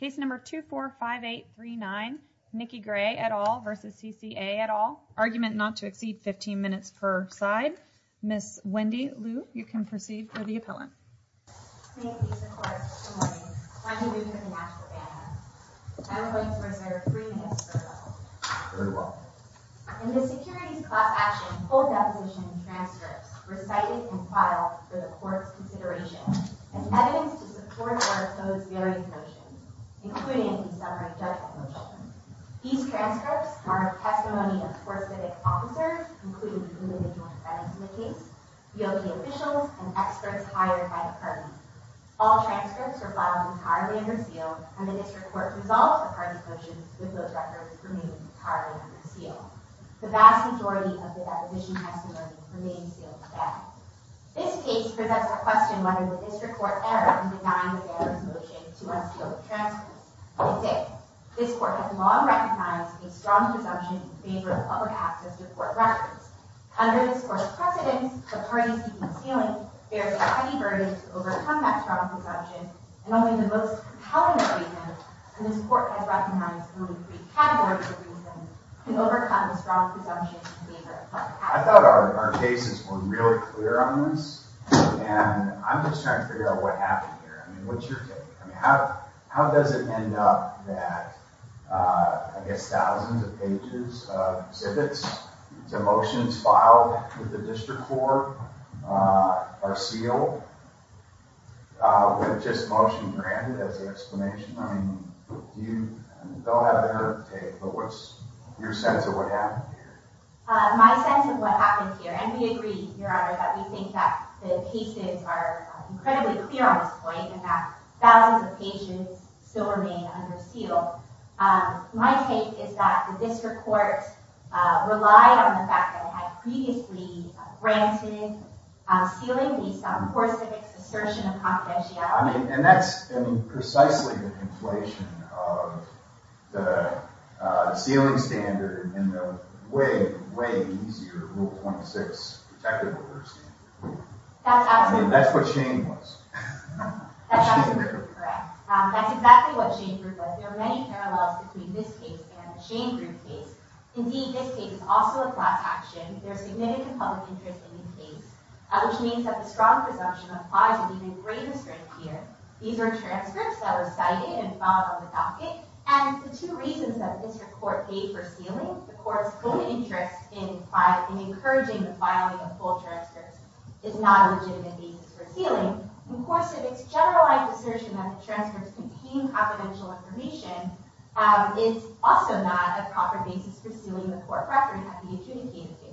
Case number 245839 Nikki Gray et al versus CCA et al. Argument not to exceed 15 minutes per side. Ms. Wendy Liu, you can proceed for the appellant. In the securities class action full deposition transcripts recited and filed for the court's consideration as evidence to support or oppose various motions, including the summary judgment motion. These transcripts are a testimony of four civic officers, including the individual defendants in the case, DOJ officials, and experts hired by the parties. All transcripts were filed entirely under seal, and the district court's results of parties' motions with those records remain entirely under seal. The vast majority of the deposition testimony remains sealed to that. This case presents a question whether the district court's error in designing the errors motion to unseal the transcripts. I say, this court has long recognized a strong presumption in favor of public access to court records. Under this court's precedence, the parties seeking sealing bear the heavy burden to overcome that strong presumption, and only the most compelling reasons, and this court has recognized only three categories of reasons, to overcome the strong presumption. I thought our cases were really clear on this, and I'm just trying to figure out what happened here. I mean, what's your take? I mean, how how does it end up that, I guess, thousands of pages of exhibits to motions filed with the district court are sealed with just motion granted as the explanation? I mean, do you, they'll have their take, but what's your sense of what happened here? My sense of what happened here, and we agree, your honor, that we think that the cases are incredibly clear on this point, and that thousands of pages still remain under seal. My take is that the district court relied on the fact that it had previously granted sealing based on poor civics' assertion of confidentiality. I the sealing standard and the way, way easier rule 26 protective order standard. That's what Shane was. Correct. That's exactly what Shane group was. There are many parallels between this case and the Shane group case. Indeed, this case is also a class action. There's significant public interest in the case, which means that the strong presumption applies and even greater strength These are transcripts that were cited and filed on the docket, and the two reasons that the district court paid for sealing, the court's own interest in encouraging the filing of full transcripts is not a legitimate basis for sealing. Of course, if it's generalized assertion that the transcripts contain confidential information, it's also not a proper basis for sealing the court record at the adjudicated case.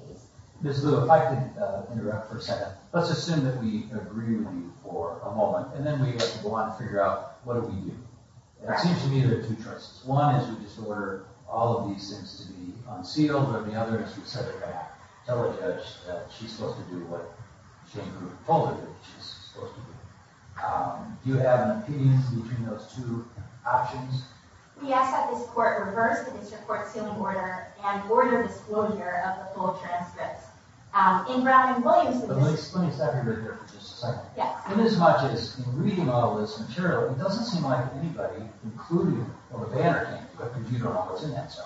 Ms. Lewis, if I could interrupt for a second. Let's assume that we agree with you for a moment, and then we want to figure out what do we do. It seems to me there are two choices. One is we just order all of these things to be unsealed, or the other is we set it back, tell the judge that she's supposed to do what Shane group told her that she's supposed to do. Do you have an opinion between those two options? We ask that this court reverse the district court's sealing order and order disclosure of the full transcripts. In Brown and Williams... Let me stop you right there for just a second. In as much as in reading all this material, it doesn't seem like anybody, including the Banner team, put computer models in that zone.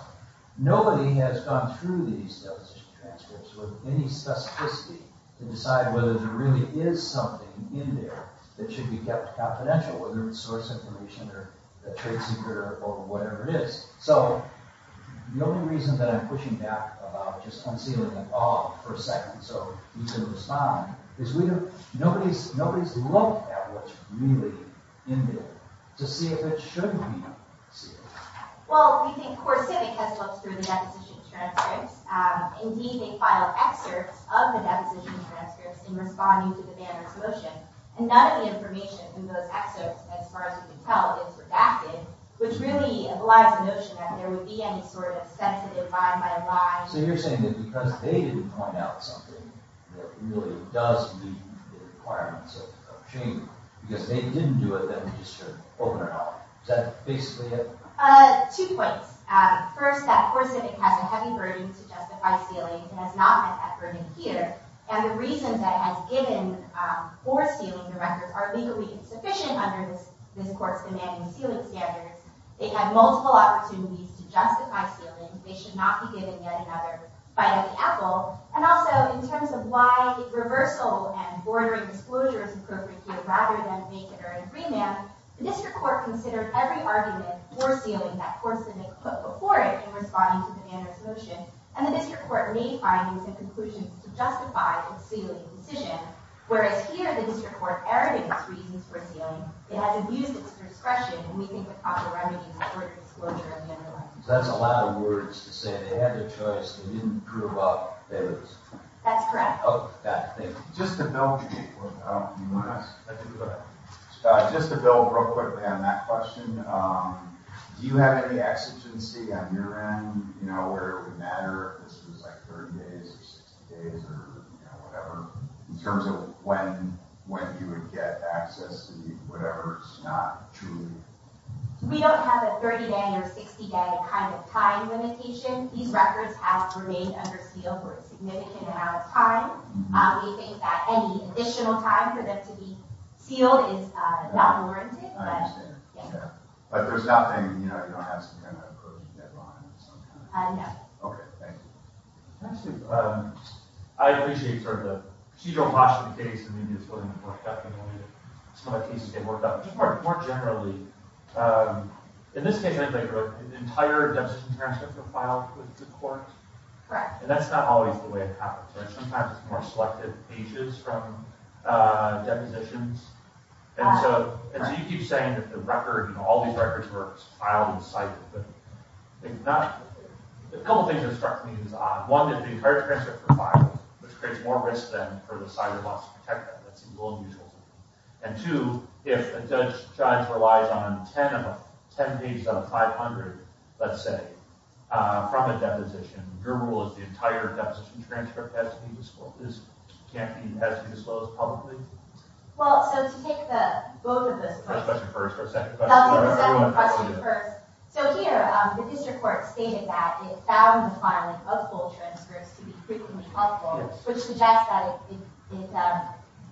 Nobody has gone through these deposition transcripts with any specificity to decide whether there really is something in there that should be kept confidential, whether it's source information or a trade secret or whatever it is. So the only reason that I'm asking is nobody's looked at what's really in there to see if it should be sealed. Well, we think CoreCivic has looked through the deposition transcripts. Indeed, they file excerpts of the deposition transcripts in responding to the Banner's motion, and none of the information in those excerpts, as far as we can tell, is redacted, which really belies the notion that there would be any sort of sensitive lie by lie... So you're saying that because they didn't point out something that really does meet the requirements of shame, because they didn't do it, then they just sort of open it up. Is that basically it? Two points. First, that CoreCivic has a heavy burden to justify stealing. It has not met that burden here, and the reasons it has given for stealing the records are legally insufficient under this court's commanding sealing standards. It had multiple opportunities to justify stealing. They should not be given yet another bite of the apple. And also, in terms of why reversal and bordering disclosure is appropriate here rather than vacant or in remand, the district court considered every argument for stealing that CoreCivic put before it in responding to the Banner's motion, and the district court made findings and conclusions to justify its sealing decision, whereas here the district court erred against reasons for stealing. It has abused its discretion, and we think the proper timing is for disclosure in the end of life. That's a lot of words to say they had their choice, they didn't prove out theirs. That's correct. Oh, got it. Thank you. Just to build... Just to build real quick on that question, do you have any exigency on your end, you know, where it would matter if this was like 30 days or 60 days or whatever, in terms of when you would get access to the whatever? It's not truly... We don't have a 30-day or 60-day kind of time limitation. These records have remained under seal for a significant amount of time. We think that any additional time for them to be sealed is not warranted. I understand. But there's nothing, you know, you don't have some kind of a proven deadline of some kind? No. Okay, thank you. I appreciate sort of the... So you don't watch the case, and maybe it's going to get worked out. Some of the cases get worked out. Just more generally, in this case, I think an entire deposition transcript was filed with the court. Correct. And that's not always the way it happens, right? Sometimes it's more selective pages from depositions. And so you keep saying that the record and all these records were filed in the site. A couple things that struck me as odd. One, that the entire transcript was filed, which creates more risk then for the site that wants to protect them. That seems a little unusual to me. And two, if a judge decides to rely on 10 of them, 10 pages out of 500, let's say, from a deposition, your rule is the entire deposition transcript has to be disclosed publicly? Well, so to take the both of those... First question first, or second question first? So here, the district court stated that it found the filing of full transcripts to be frequently helpful, which suggests that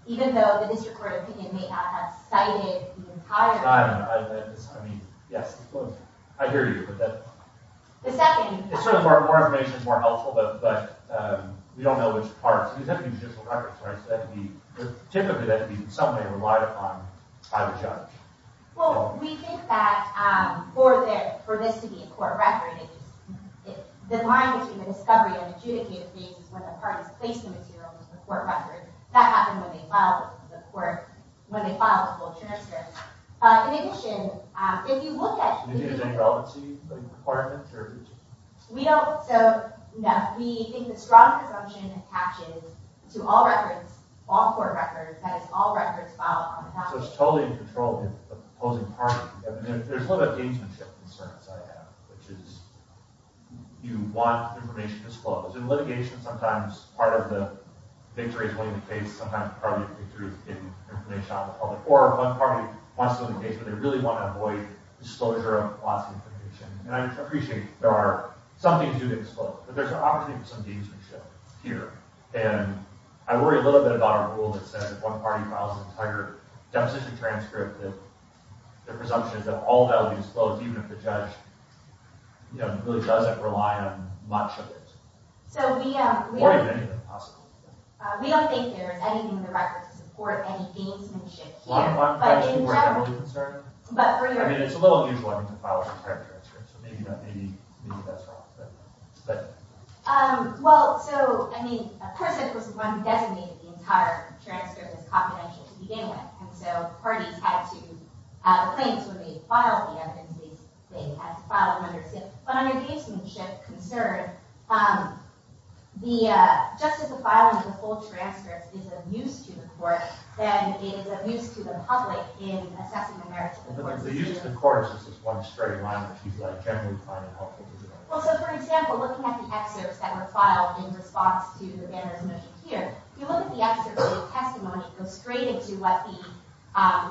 even though the district court opinion may not have cited the entire... I mean, yes, I hear you. The second... It's sort of more information, more helpful, but we don't know which parts. These have to be judicial records, right? Typically, that would be something they relied upon by the judge. Well, we think that for this to be a court record, the line between the discovery and adjudicated case is when the parties placed the material into the court record. That happened when they filed the full transcript. In addition, if you look at... Did you use any relevancy requirements? We don't, so... No, we think that strong presumption attaches to all records, all court records, that is all records filed on behalf of... So it's totally in control of opposing parties. There's a little bit of gaugemanship concerns I have, which is... You want information to explode. In litigation, sometimes part of the victory is winning the case, sometimes part of the victory is getting information out to the public. Or one party wants to win the case, but they really want to avoid disclosure of lost information. And I appreciate there are... Some things do get exploded, but there's an opportunity for some gaugemanship here. And I worry a little bit about a rule that says if one party files an entire deposition transcript, the presumption is that all that will be disclosed, even if the judge really doesn't rely on much of it. Or if any of it is possible. We don't think there is anything in the record to support any gaugemanship here. One question we're a little bit concerned with. I mean, it's a little unusual having to file an entire transcript, so maybe that's wrong. Well, so, I mean, a person was the one who designated the entire transcript as confidential to begin with. And so parties had to... Claims were made to file the evidence. They had to file it under... But on your gaugemanship concern, just as the filing of the full transcript is of use to the court, then it is of use to the public in assessing the merits of the decision. The use of the court is just one straight line, which is generally fine and helpful. Well, so, for example, looking at the excerpts that were filed in response to the Banner's motion here, if you look at the excerpt of the testimony, it goes straight into what the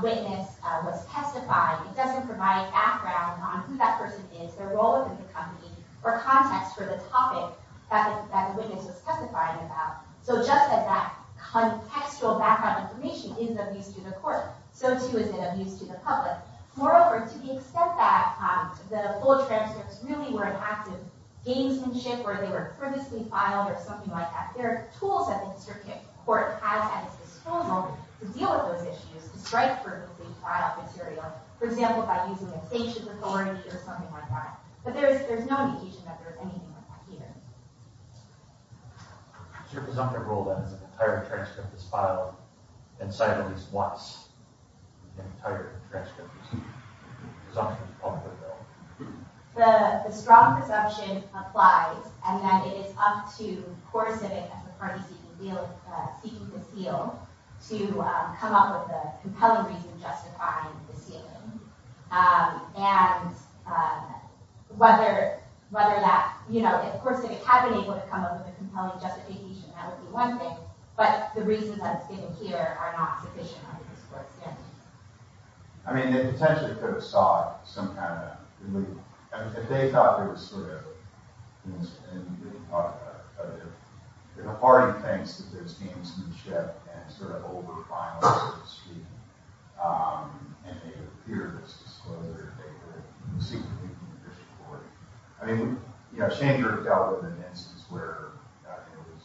witness was testifying. It doesn't provide background on who that person is, their role within the company, or context for the topic that the witness was testifying about. So just as that contextual background information is of use to the court, so too is it of use to the public. Moreover, to the extent that the full transcripts really were an act of gaugemanship, or they were purposely filed, or something like that, there are tools that the district court has at its disposal to deal with those issues, to strike purposely filed material, for example, by using a sanctions authority or something like that. But there is no indication that there is anything like that here. Is your presumptive rule that an entire transcript is filed and cited at least once? The entire transcript is presumptive of the bill? The strong presumption applies, and that it is up to CoreCivic as the party seeking the seal to come up with a compelling reason justifying the sealing. If CoreCivic had been able to come up with a compelling justification, that would be one thing, but the reasons that are given here are not sufficient under this court's standards. I mean, they potentially could have sought some kind of... If they thought there was sort of... If the party thinks that there's gamesmanship, and sort of over-finalized the screening, and they appeared as if they were secretly from the district court... I mean, Schanger dealt with an instance where it was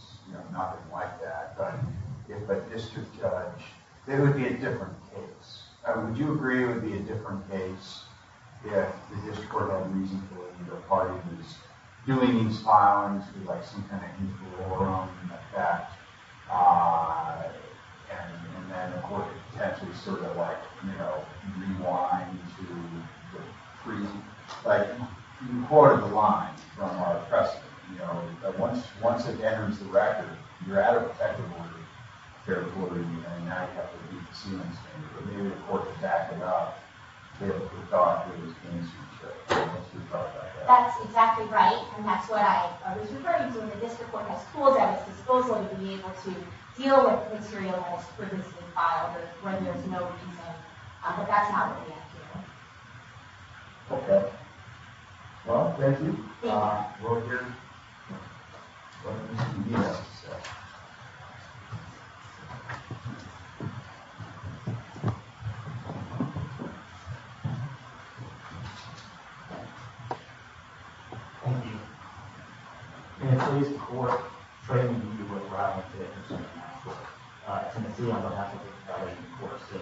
nothing like that, but if a district judge... It would be a different case. Would you agree it would be a different case if the district court had reason to believe that the party was doing these filings with some kind of equilibrium effect, and then the court could potentially sort of rewind to the freezing? Like, you can quote it in the line, it's not a lot of precedent, but once it enters the record, you're at a protective order, fair and square, and now you have to delete the sealing standard. So maybe the court's back about they thought there was gamesmanship. That's exactly right, and that's what I was referring to, and the district court has tools at its disposal to be able to deal with material that is previously filed, when there's no reason. But that's not what they have here. Okay. Well, thank you. We'll hear... We'll hear from you next session. Thank you. Thank you. And please, before training you with what we're having today, as you can see, I'm going to have to get ready for a sitting.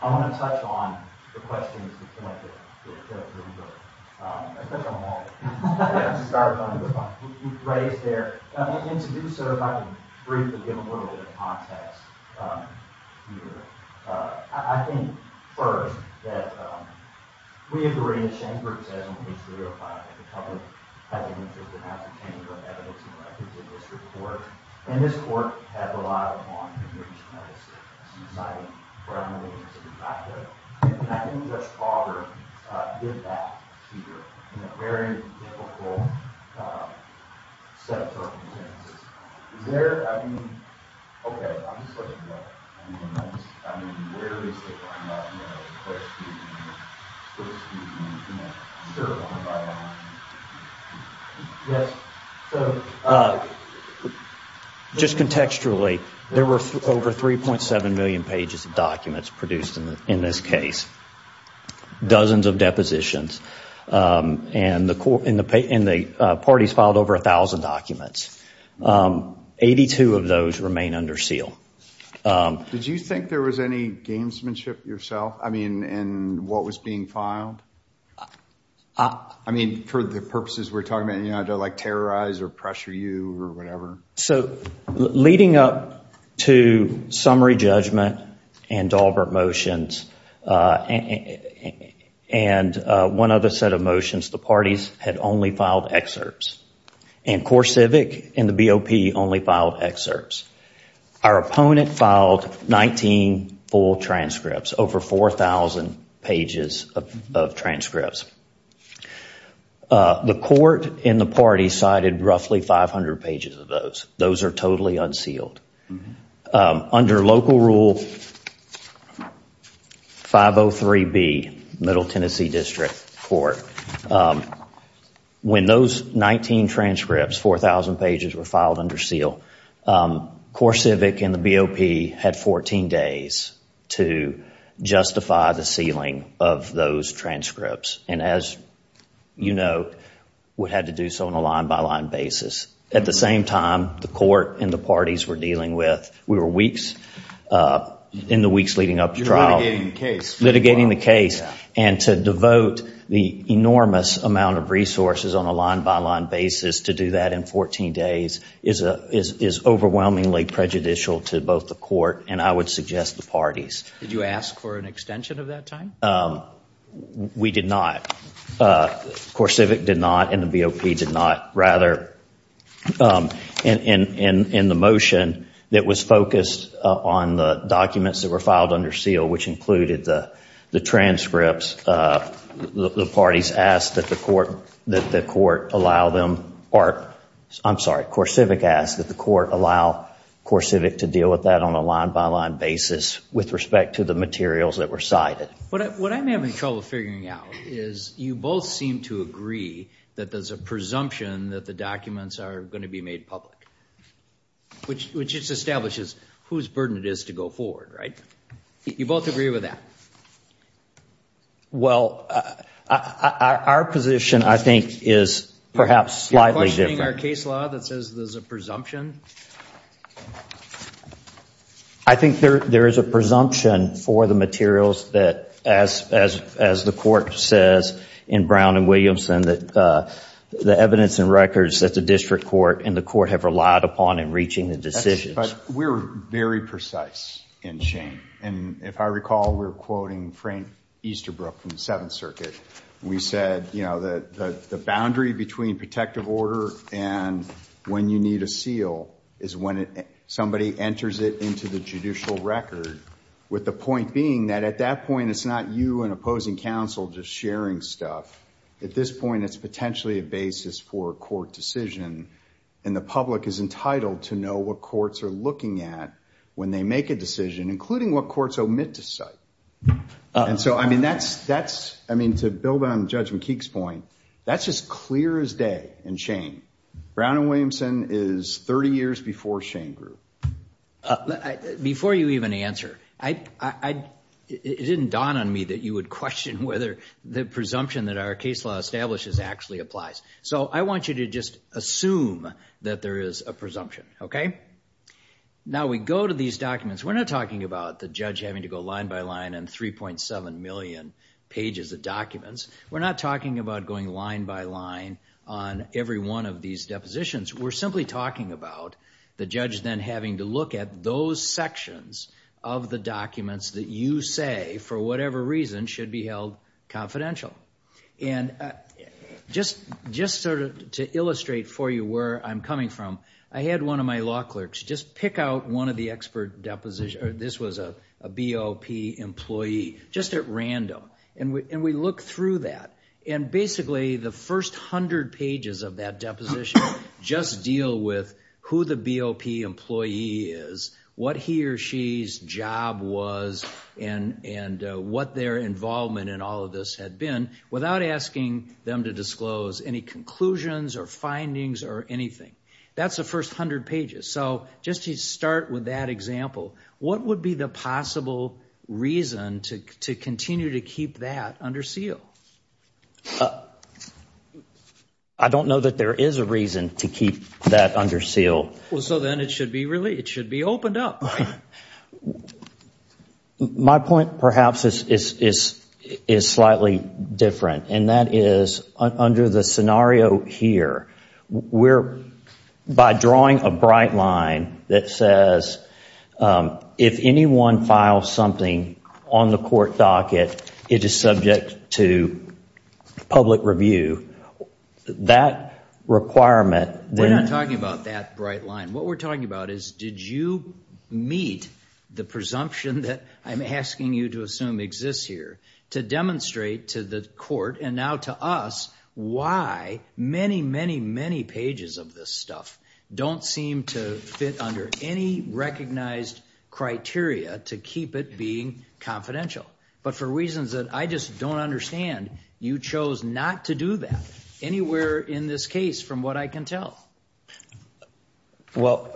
I'm going to touch on the questions that came up at the beginning, especially on that. You raised there, and to do so, if I can briefly give a little bit of context here. I think, first, that we agree, as Shane Brooks says on page 305, that the public has an interest in how to change the evidence and records in this report, and this court has relied upon to do this analysis, and I think Judge Carver did that here in a very difficult set of circumstances. Is there, I mean... Okay, I'll just let you go. I mean, where is it that I'm not aware of the questions that you can answer one by one. Yes. So, just contextually, there were over 3.7 million pages of documents produced in this case, dozens of depositions, and the parties filed over 1,000 documents. 82 of those remain under seal. Did you think there was any gamesmanship yourself? I mean, in what was being filed? I mean, for the purposes we're talking about, to terrorize or pressure you, or whatever? So, leading up to summary judgment and Dalbert motions, and one other set of motions, the parties had only filed excerpts, and CoreCivic and the BOP only filed excerpts. Our opponent filed 19 full transcripts, over 4,000 pages of transcripts. The court and the parties cited roughly 500 pages of those. Those are totally unsealed. Under local rule 503B, Middle Tennessee District Court, when those 19 transcripts, 4,000 pages, were filed under seal, CoreCivic and the BOP had 14 days to justify the sealing of those transcripts, and as you know, we had to do so on a line-by-line basis. At the same time, the court and the parties were dealing with, we were weeks in the weeks leading up to trial, litigating the case, and to devote the enormous amount of resources on a line-by-line basis to do that in 14 days is overwhelmingly prejudicial to both the court and, I would suggest, the parties. Did you ask for an extension of that time? We did not. CoreCivic did not and the BOP did not. Rather, in the motion that was focused on the documents that were filed under seal, which included the transcripts, the parties asked that the court allow them, or I'm sorry, CoreCivic asked that the court allow CoreCivic to deal with that on a line-by-line basis with respect to the materials that were cited. What I'm having trouble figuring out is you both seem to agree that there's a presumption that the documents are going to be made public, which just establishes whose burden it is to go forward, right? You both agree with that? Well, our position, I think, is perhaps slightly different. You're questioning our case law that says there's a presumption? I think there is a presumption for the materials that as the court says in Brown and Williamson that the evidence and records that the district court and the court have relied upon in reaching the decisions. But we're very precise in Shane, and if I recall we're quoting Frank Easterbrook from the Seventh Circuit. We said the boundary between protective order and when you need a seal is when somebody enters it into the judicial record with the point being that at that point it's not you and opposing counsel just sharing stuff. At this point it's potentially a basis for a court decision, and the public is entitled to know what courts are looking at when they make a decision including what courts omit to cite. To build on Judge McKeague's point, that's as clear as day in Shane. Brown and Williamson is 30 years before Shane grew. Before you even answer, it didn't dawn on me that you would question whether the presumption that our case law establishes actually applies. So I want you to just assume that there is a presumption. Now we go to these documents. We're not talking about the judge having to go line by line on 3.7 million pages of documents. We're not talking about going line by line on every one of these depositions. We're simply talking about the judge then having to look at those sections of the documents that you say, for whatever reason, should be held confidential. And just to illustrate for you where I'm coming from, I had one of my law clerks just pick out one of the expert depositions, this was a BOP employee, just at random. And we look through that. And basically the first hundred pages of that deposition just deal with who the BOP employee is, what he or she's job was, and what their involvement in all of this had been without asking them to disclose any conclusions or findings or anything. That's the first hundred pages. So just to start with that example, what would be the possible reason to continue to keep that under seal? I don't know that there is a reason to keep that under seal. So then it should be opened up. Well, my point perhaps is slightly different, and that is under the scenario here, we're, by drawing a bright line that says, if anyone files something on the court docket, it is subject to public review. That requirement, We're not talking about that bright line. What we're talking about is, did you meet the presumption that I'm asking you to assume exists here to demonstrate to the court, and now to us, why many, many, many pages of this stuff don't seem to fit under any recognized criteria to keep it being confidential. But for reasons that I just don't understand, you chose not to do that. Anywhere in this case from what I can tell. Well,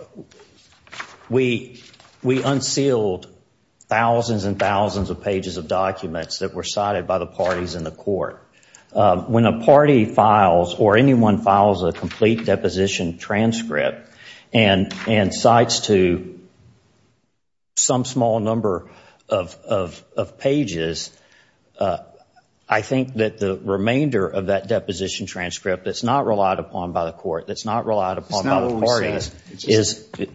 we unsealed thousands and thousands of pages of documents that were cited by the parties in the court. When a party files, or anyone files a complete deposition transcript and cites to some small number of pages, I think that the remainder of that deposition transcript that's not relied upon by the court, that's not relied upon by the parties,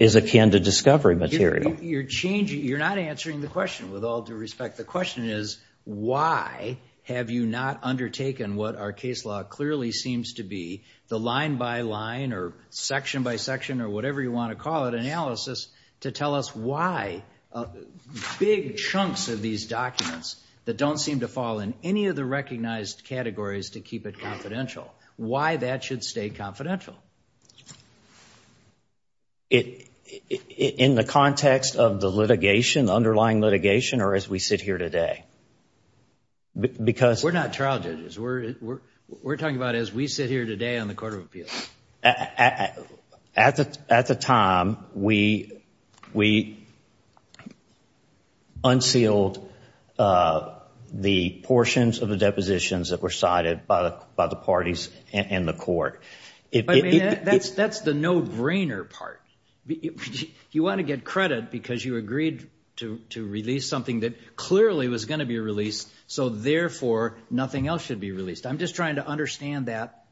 is akin to discovery material. You're not answering the question with all due respect. The question is, why have you not undertaken what our case law clearly seems to be, the line-by-line or section-by-section or whatever you want to call it, analysis, to tell us why big chunks of these documents that don't seem to fall in any of the recognized categories to keep it confidential? Why that should stay confidential? In the context of the litigation, the underlying litigation, or as we sit here today? We're not trial judges. We're talking about as we sit here today on the Court of Appeals. At the time, we unsealed the portions of the depositions that were cited by the parties and the court. That's the no-brainer part. You want to get credit because you agreed to release something that clearly was going to be released so therefore nothing else should be released. I'm just trying to understand that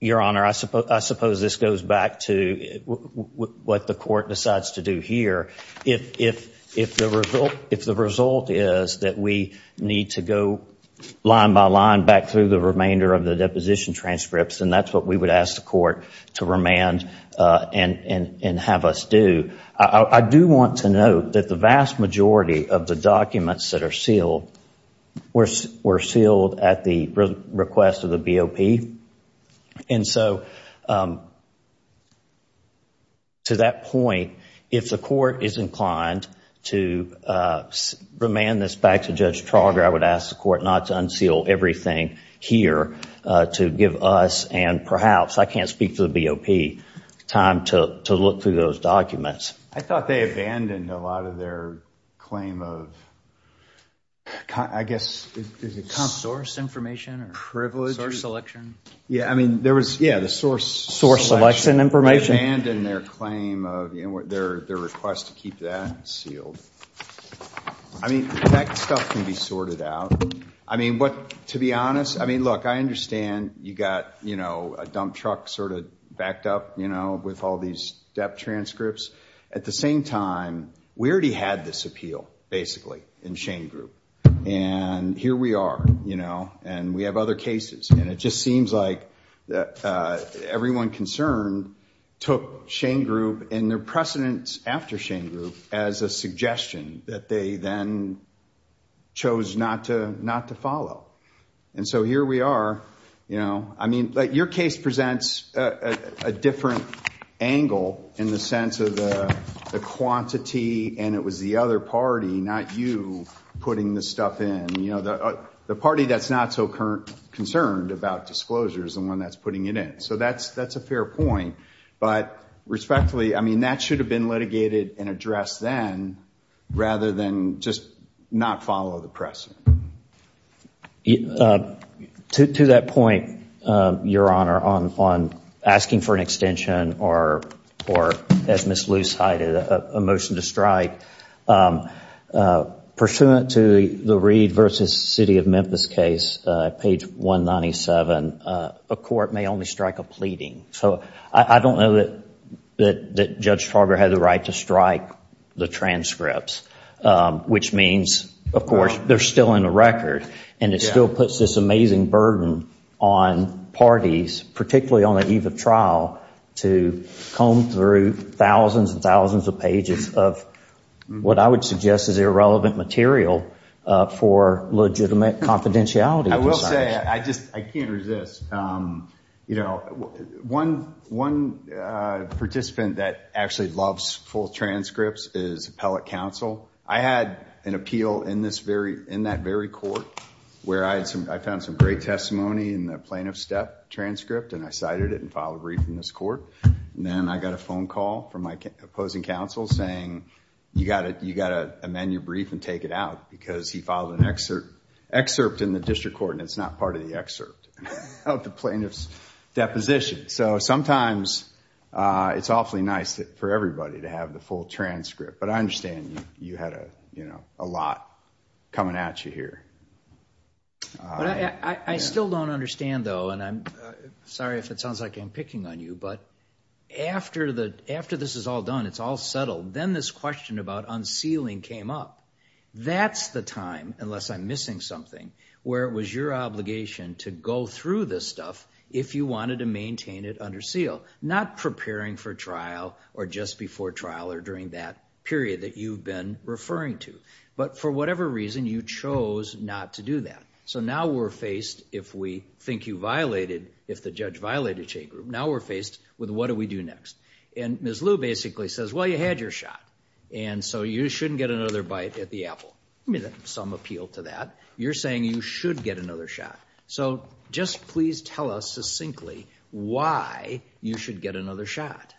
Your Honor, I suppose this goes back to what the court decides to do here. If the result is that we need to go line by line back through the remainder of the deposition transcripts, then that's what we would ask the court to remand and have us do. I do want to note that the vast majority of the documents that are sealed were sealed at the request of the BOP. So to that point, if the court is inclined to remand this back to Judge Trauger, I would ask the court not to unseal everything here to give us and perhaps, I can't speak for the BOP, time to look through those documents. I thought they abandoned a lot of their claim of source information or privilege source selection source selection information They abandoned their claim of their request to keep that sealed. That stuff can be sorted out. To be honest, look, I understand you got a dump truck sort of backed up with all these debt transcripts. At the same time, we already had this appeal basically in Shane Group. And here we are. And we have other cases. It just seems like everyone concerned took Shane Group and their precedence after Shane Group as a suggestion that they then chose not to follow. Here we are. Your case presents a different angle in the sense of the quantity and it was the other party, not you, putting this stuff in. The party that's not so concerned about disclosure is the one that's putting it in. That's a fair point. But respectfully, that should have been litigated and addressed then rather than just not follow the precedent. To that point, Your Honor, on asking for an extension or as Ms. Luce cited, a motion to strike, pursuant to the Reed v. City of Memphis case, page 197, a court may only strike a pleading. I don't know that Judge Trauger had the right to strike the transcripts, which means, of course, they're still in the record and it still puts this amazing burden on parties, particularly on the eve of trial, to comb through thousands and thousands of pages of what I would suggest is irrelevant material for legitimate confidentiality. I will say, I just can't resist. One participant that actually loves full transcripts is appellate counsel. I had an appeal in that very court where I found some great testimony in the plaintiff's step transcript and I cited it and filed a brief in this court. Then I got a phone call from my opposing counsel saying you got to amend your brief and take it out because he filed an excerpt in the district court and it's not part of the excerpt of the plaintiff's deposition. Sometimes it's awfully nice for everybody to have the full transcript, but I understand you had a lot coming at you here. I still don't understand, though, and I'm sorry if it sounds like I'm picking on you, but after this is all done, it's all settled, then this question about unsealing came up. That's the time, unless I'm missing something, where it was your obligation to go through this stuff if you wanted to maintain it under seal, not preparing for trial or just before trial or during that period that you've been referring to, but for whatever reason, you chose not to do that. Now we're faced, if we think you violated, if the judge says, what do we do next? Ms. Liu basically says, well, you had your shot and so you shouldn't get another bite at the apple. Some appeal to that. You're saying you should get another shot, so just please tell us succinctly why you should get another shot.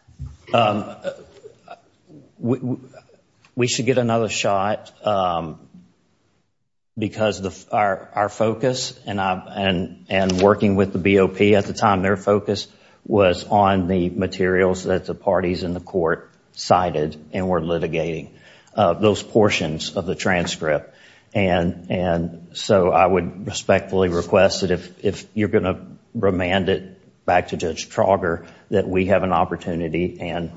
We should get another shot because our focus and working with the BOP at the time, their focus was on the materials that the parties in the court cited and were litigating, those portions of the transcript. I would respectfully request that if you're going to remand it back to Judge Trauger, that we have an opportunity and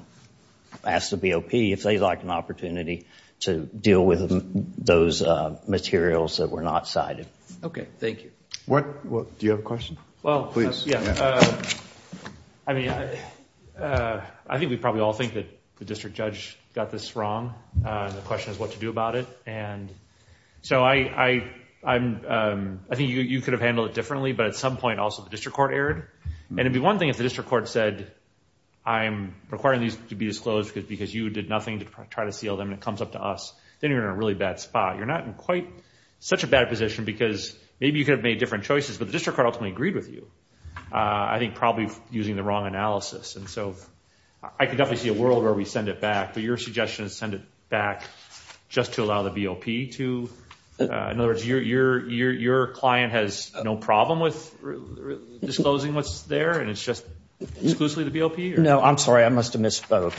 ask the BOP if they'd like an opportunity to deal with those materials that were not cited. Okay, thank you. Do you have a question? Please. I think we probably all think that the district judge got this wrong. The question is what to do about it. I think you could have handled it differently, but at some point also the district court erred. It'd be one thing if the district court said, I'm requiring these to be disclosed because you did nothing to try to seal them and it comes up to us, then you're in a really bad spot. You're not in quite such a bad position because maybe you could have made different choices, but the district court ultimately agreed with you. I think probably using the wrong analysis. I can definitely see a world where we send it back, but your suggestion is to send it back just to allow the BOP to... In other words, your client has no problem with disclosing what's there and it's just exclusively the BOP? I'm sorry, I must have misspoke.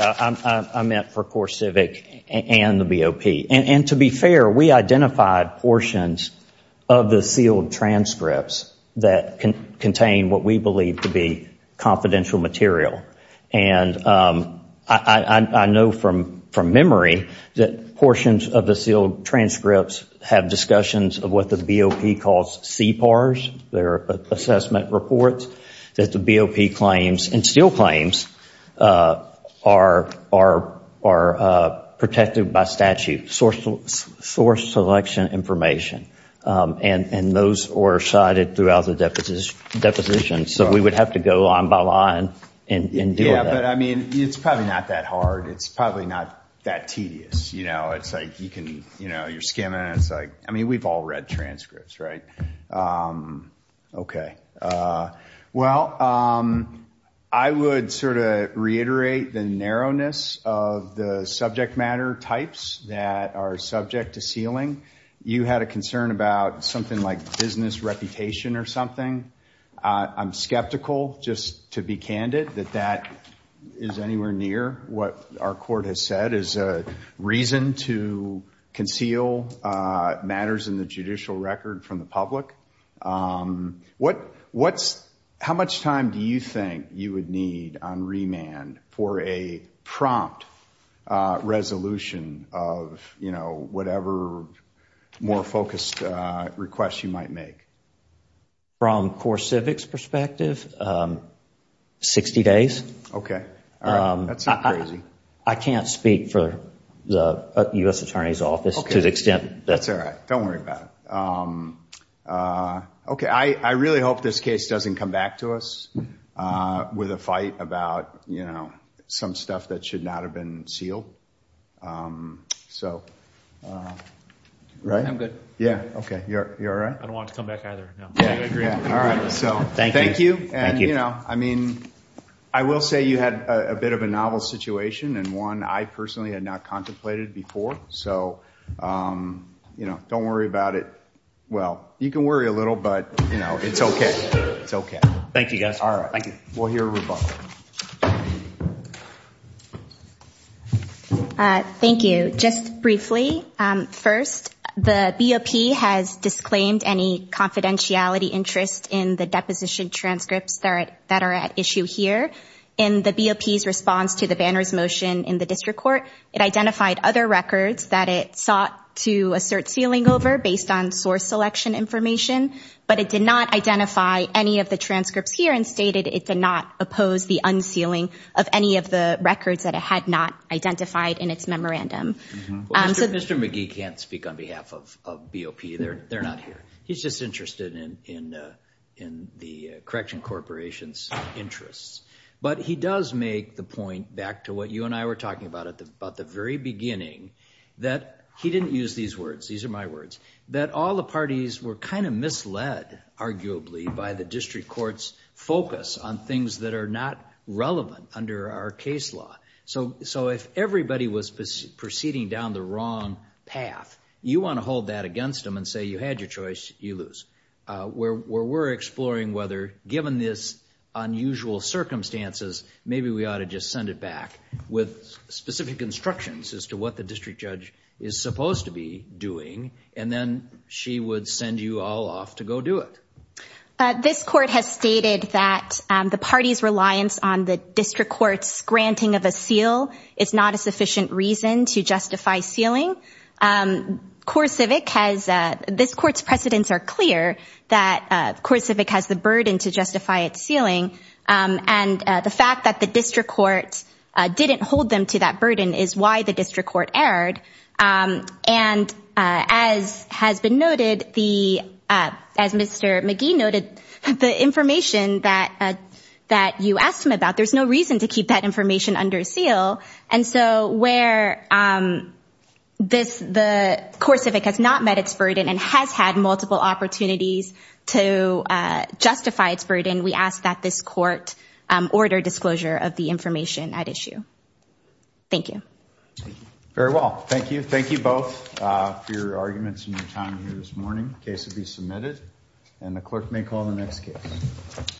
I meant for CoreCivic and the BOP. To be fair, we identified portions of the sealed transcripts that contain what we believe to be confidential material. I know from memory that portions of the sealed transcripts have discussions of what the BOP calls CPARS, their assessment reports, that the BOP claims and still claims are protected by statute, source selection information, and those are cited throughout the deposition, so we would have to go line by line and deal with that. It's probably not that hard. It's probably not that tedious. You're skimming. We've all read transcripts, right? Okay. Well, I would sort of reiterate the narrowness of the subject matter types that are subject to sealing. You had a concern about something like business reputation or something. I'm skeptical, just to be candid, that that is anywhere near what our court has said is a reason to conceal matters in the judicial record from the public. How much time do you think you would need on remand for a prompt resolution of whatever more focused request you might make? From CoreCivic's perspective, 60 days. Okay. I can't speak for the U.S. Attorney's Office to the extent that... That's all right. Don't worry about it. I really hope this case doesn't come back to us with a fight about some stuff that should not have been sealed. I'm good. I don't want to come back either. Thank you. I will say you had a bit of a novel situation and one I personally had not contemplated before. Don't worry about it. Well, you can worry a little, but it's okay. Thank you, guys. Thank you. Just briefly, first, the BOP has disclaimed any confidentiality interest in the deposition transcripts that are at issue here. In the BOP's response to the Banner's motion in the district court, it identified other records that it sought to assert sealing over based on source selection information, but it did not identify any of the transcripts here and stated it did not oppose the unsealing of any of the records that it had not identified in its memorandum. Mr. McGee can't speak on behalf of BOP. They're not here. He's just interested in the Correction Corporation's interests. But he does make the point, back to what you and I were talking about at the very beginning, that he didn't use these words, these are my words, that all the parties were kind of misled, arguably, by the district court's focus on things that are not relevant under our case law. So if everybody was proceeding down the wrong path, you want to hold that against them and say you had your choice, you lose. Where we're exploring whether, given this unusual circumstances, maybe we ought to just send it back with specific instructions as to what the district judge is supposed to be doing, and then she would send you all off to go do it. This court has stated that the party's reliance on the district court's granting of a seal is not a sufficient reason to justify sealing. CoreCivic has this court's precedents are clear that CoreCivic has the burden to justify its sealing, and the fact that the district court didn't hold them to that burden is why the district court erred, and as has been noted, as Mr. McGee noted, the information that you asked him about, there's no reason to keep that information under a seal, and so where the CoreCivic has not met its burden and has had multiple opportunities to justify its burden, we ask that this court order disclosure of the information at issue. Thank you. Very well. Thank you. Thank you both for your arguments and your time here this morning. The case will be submitted, and the clerk may call the next case.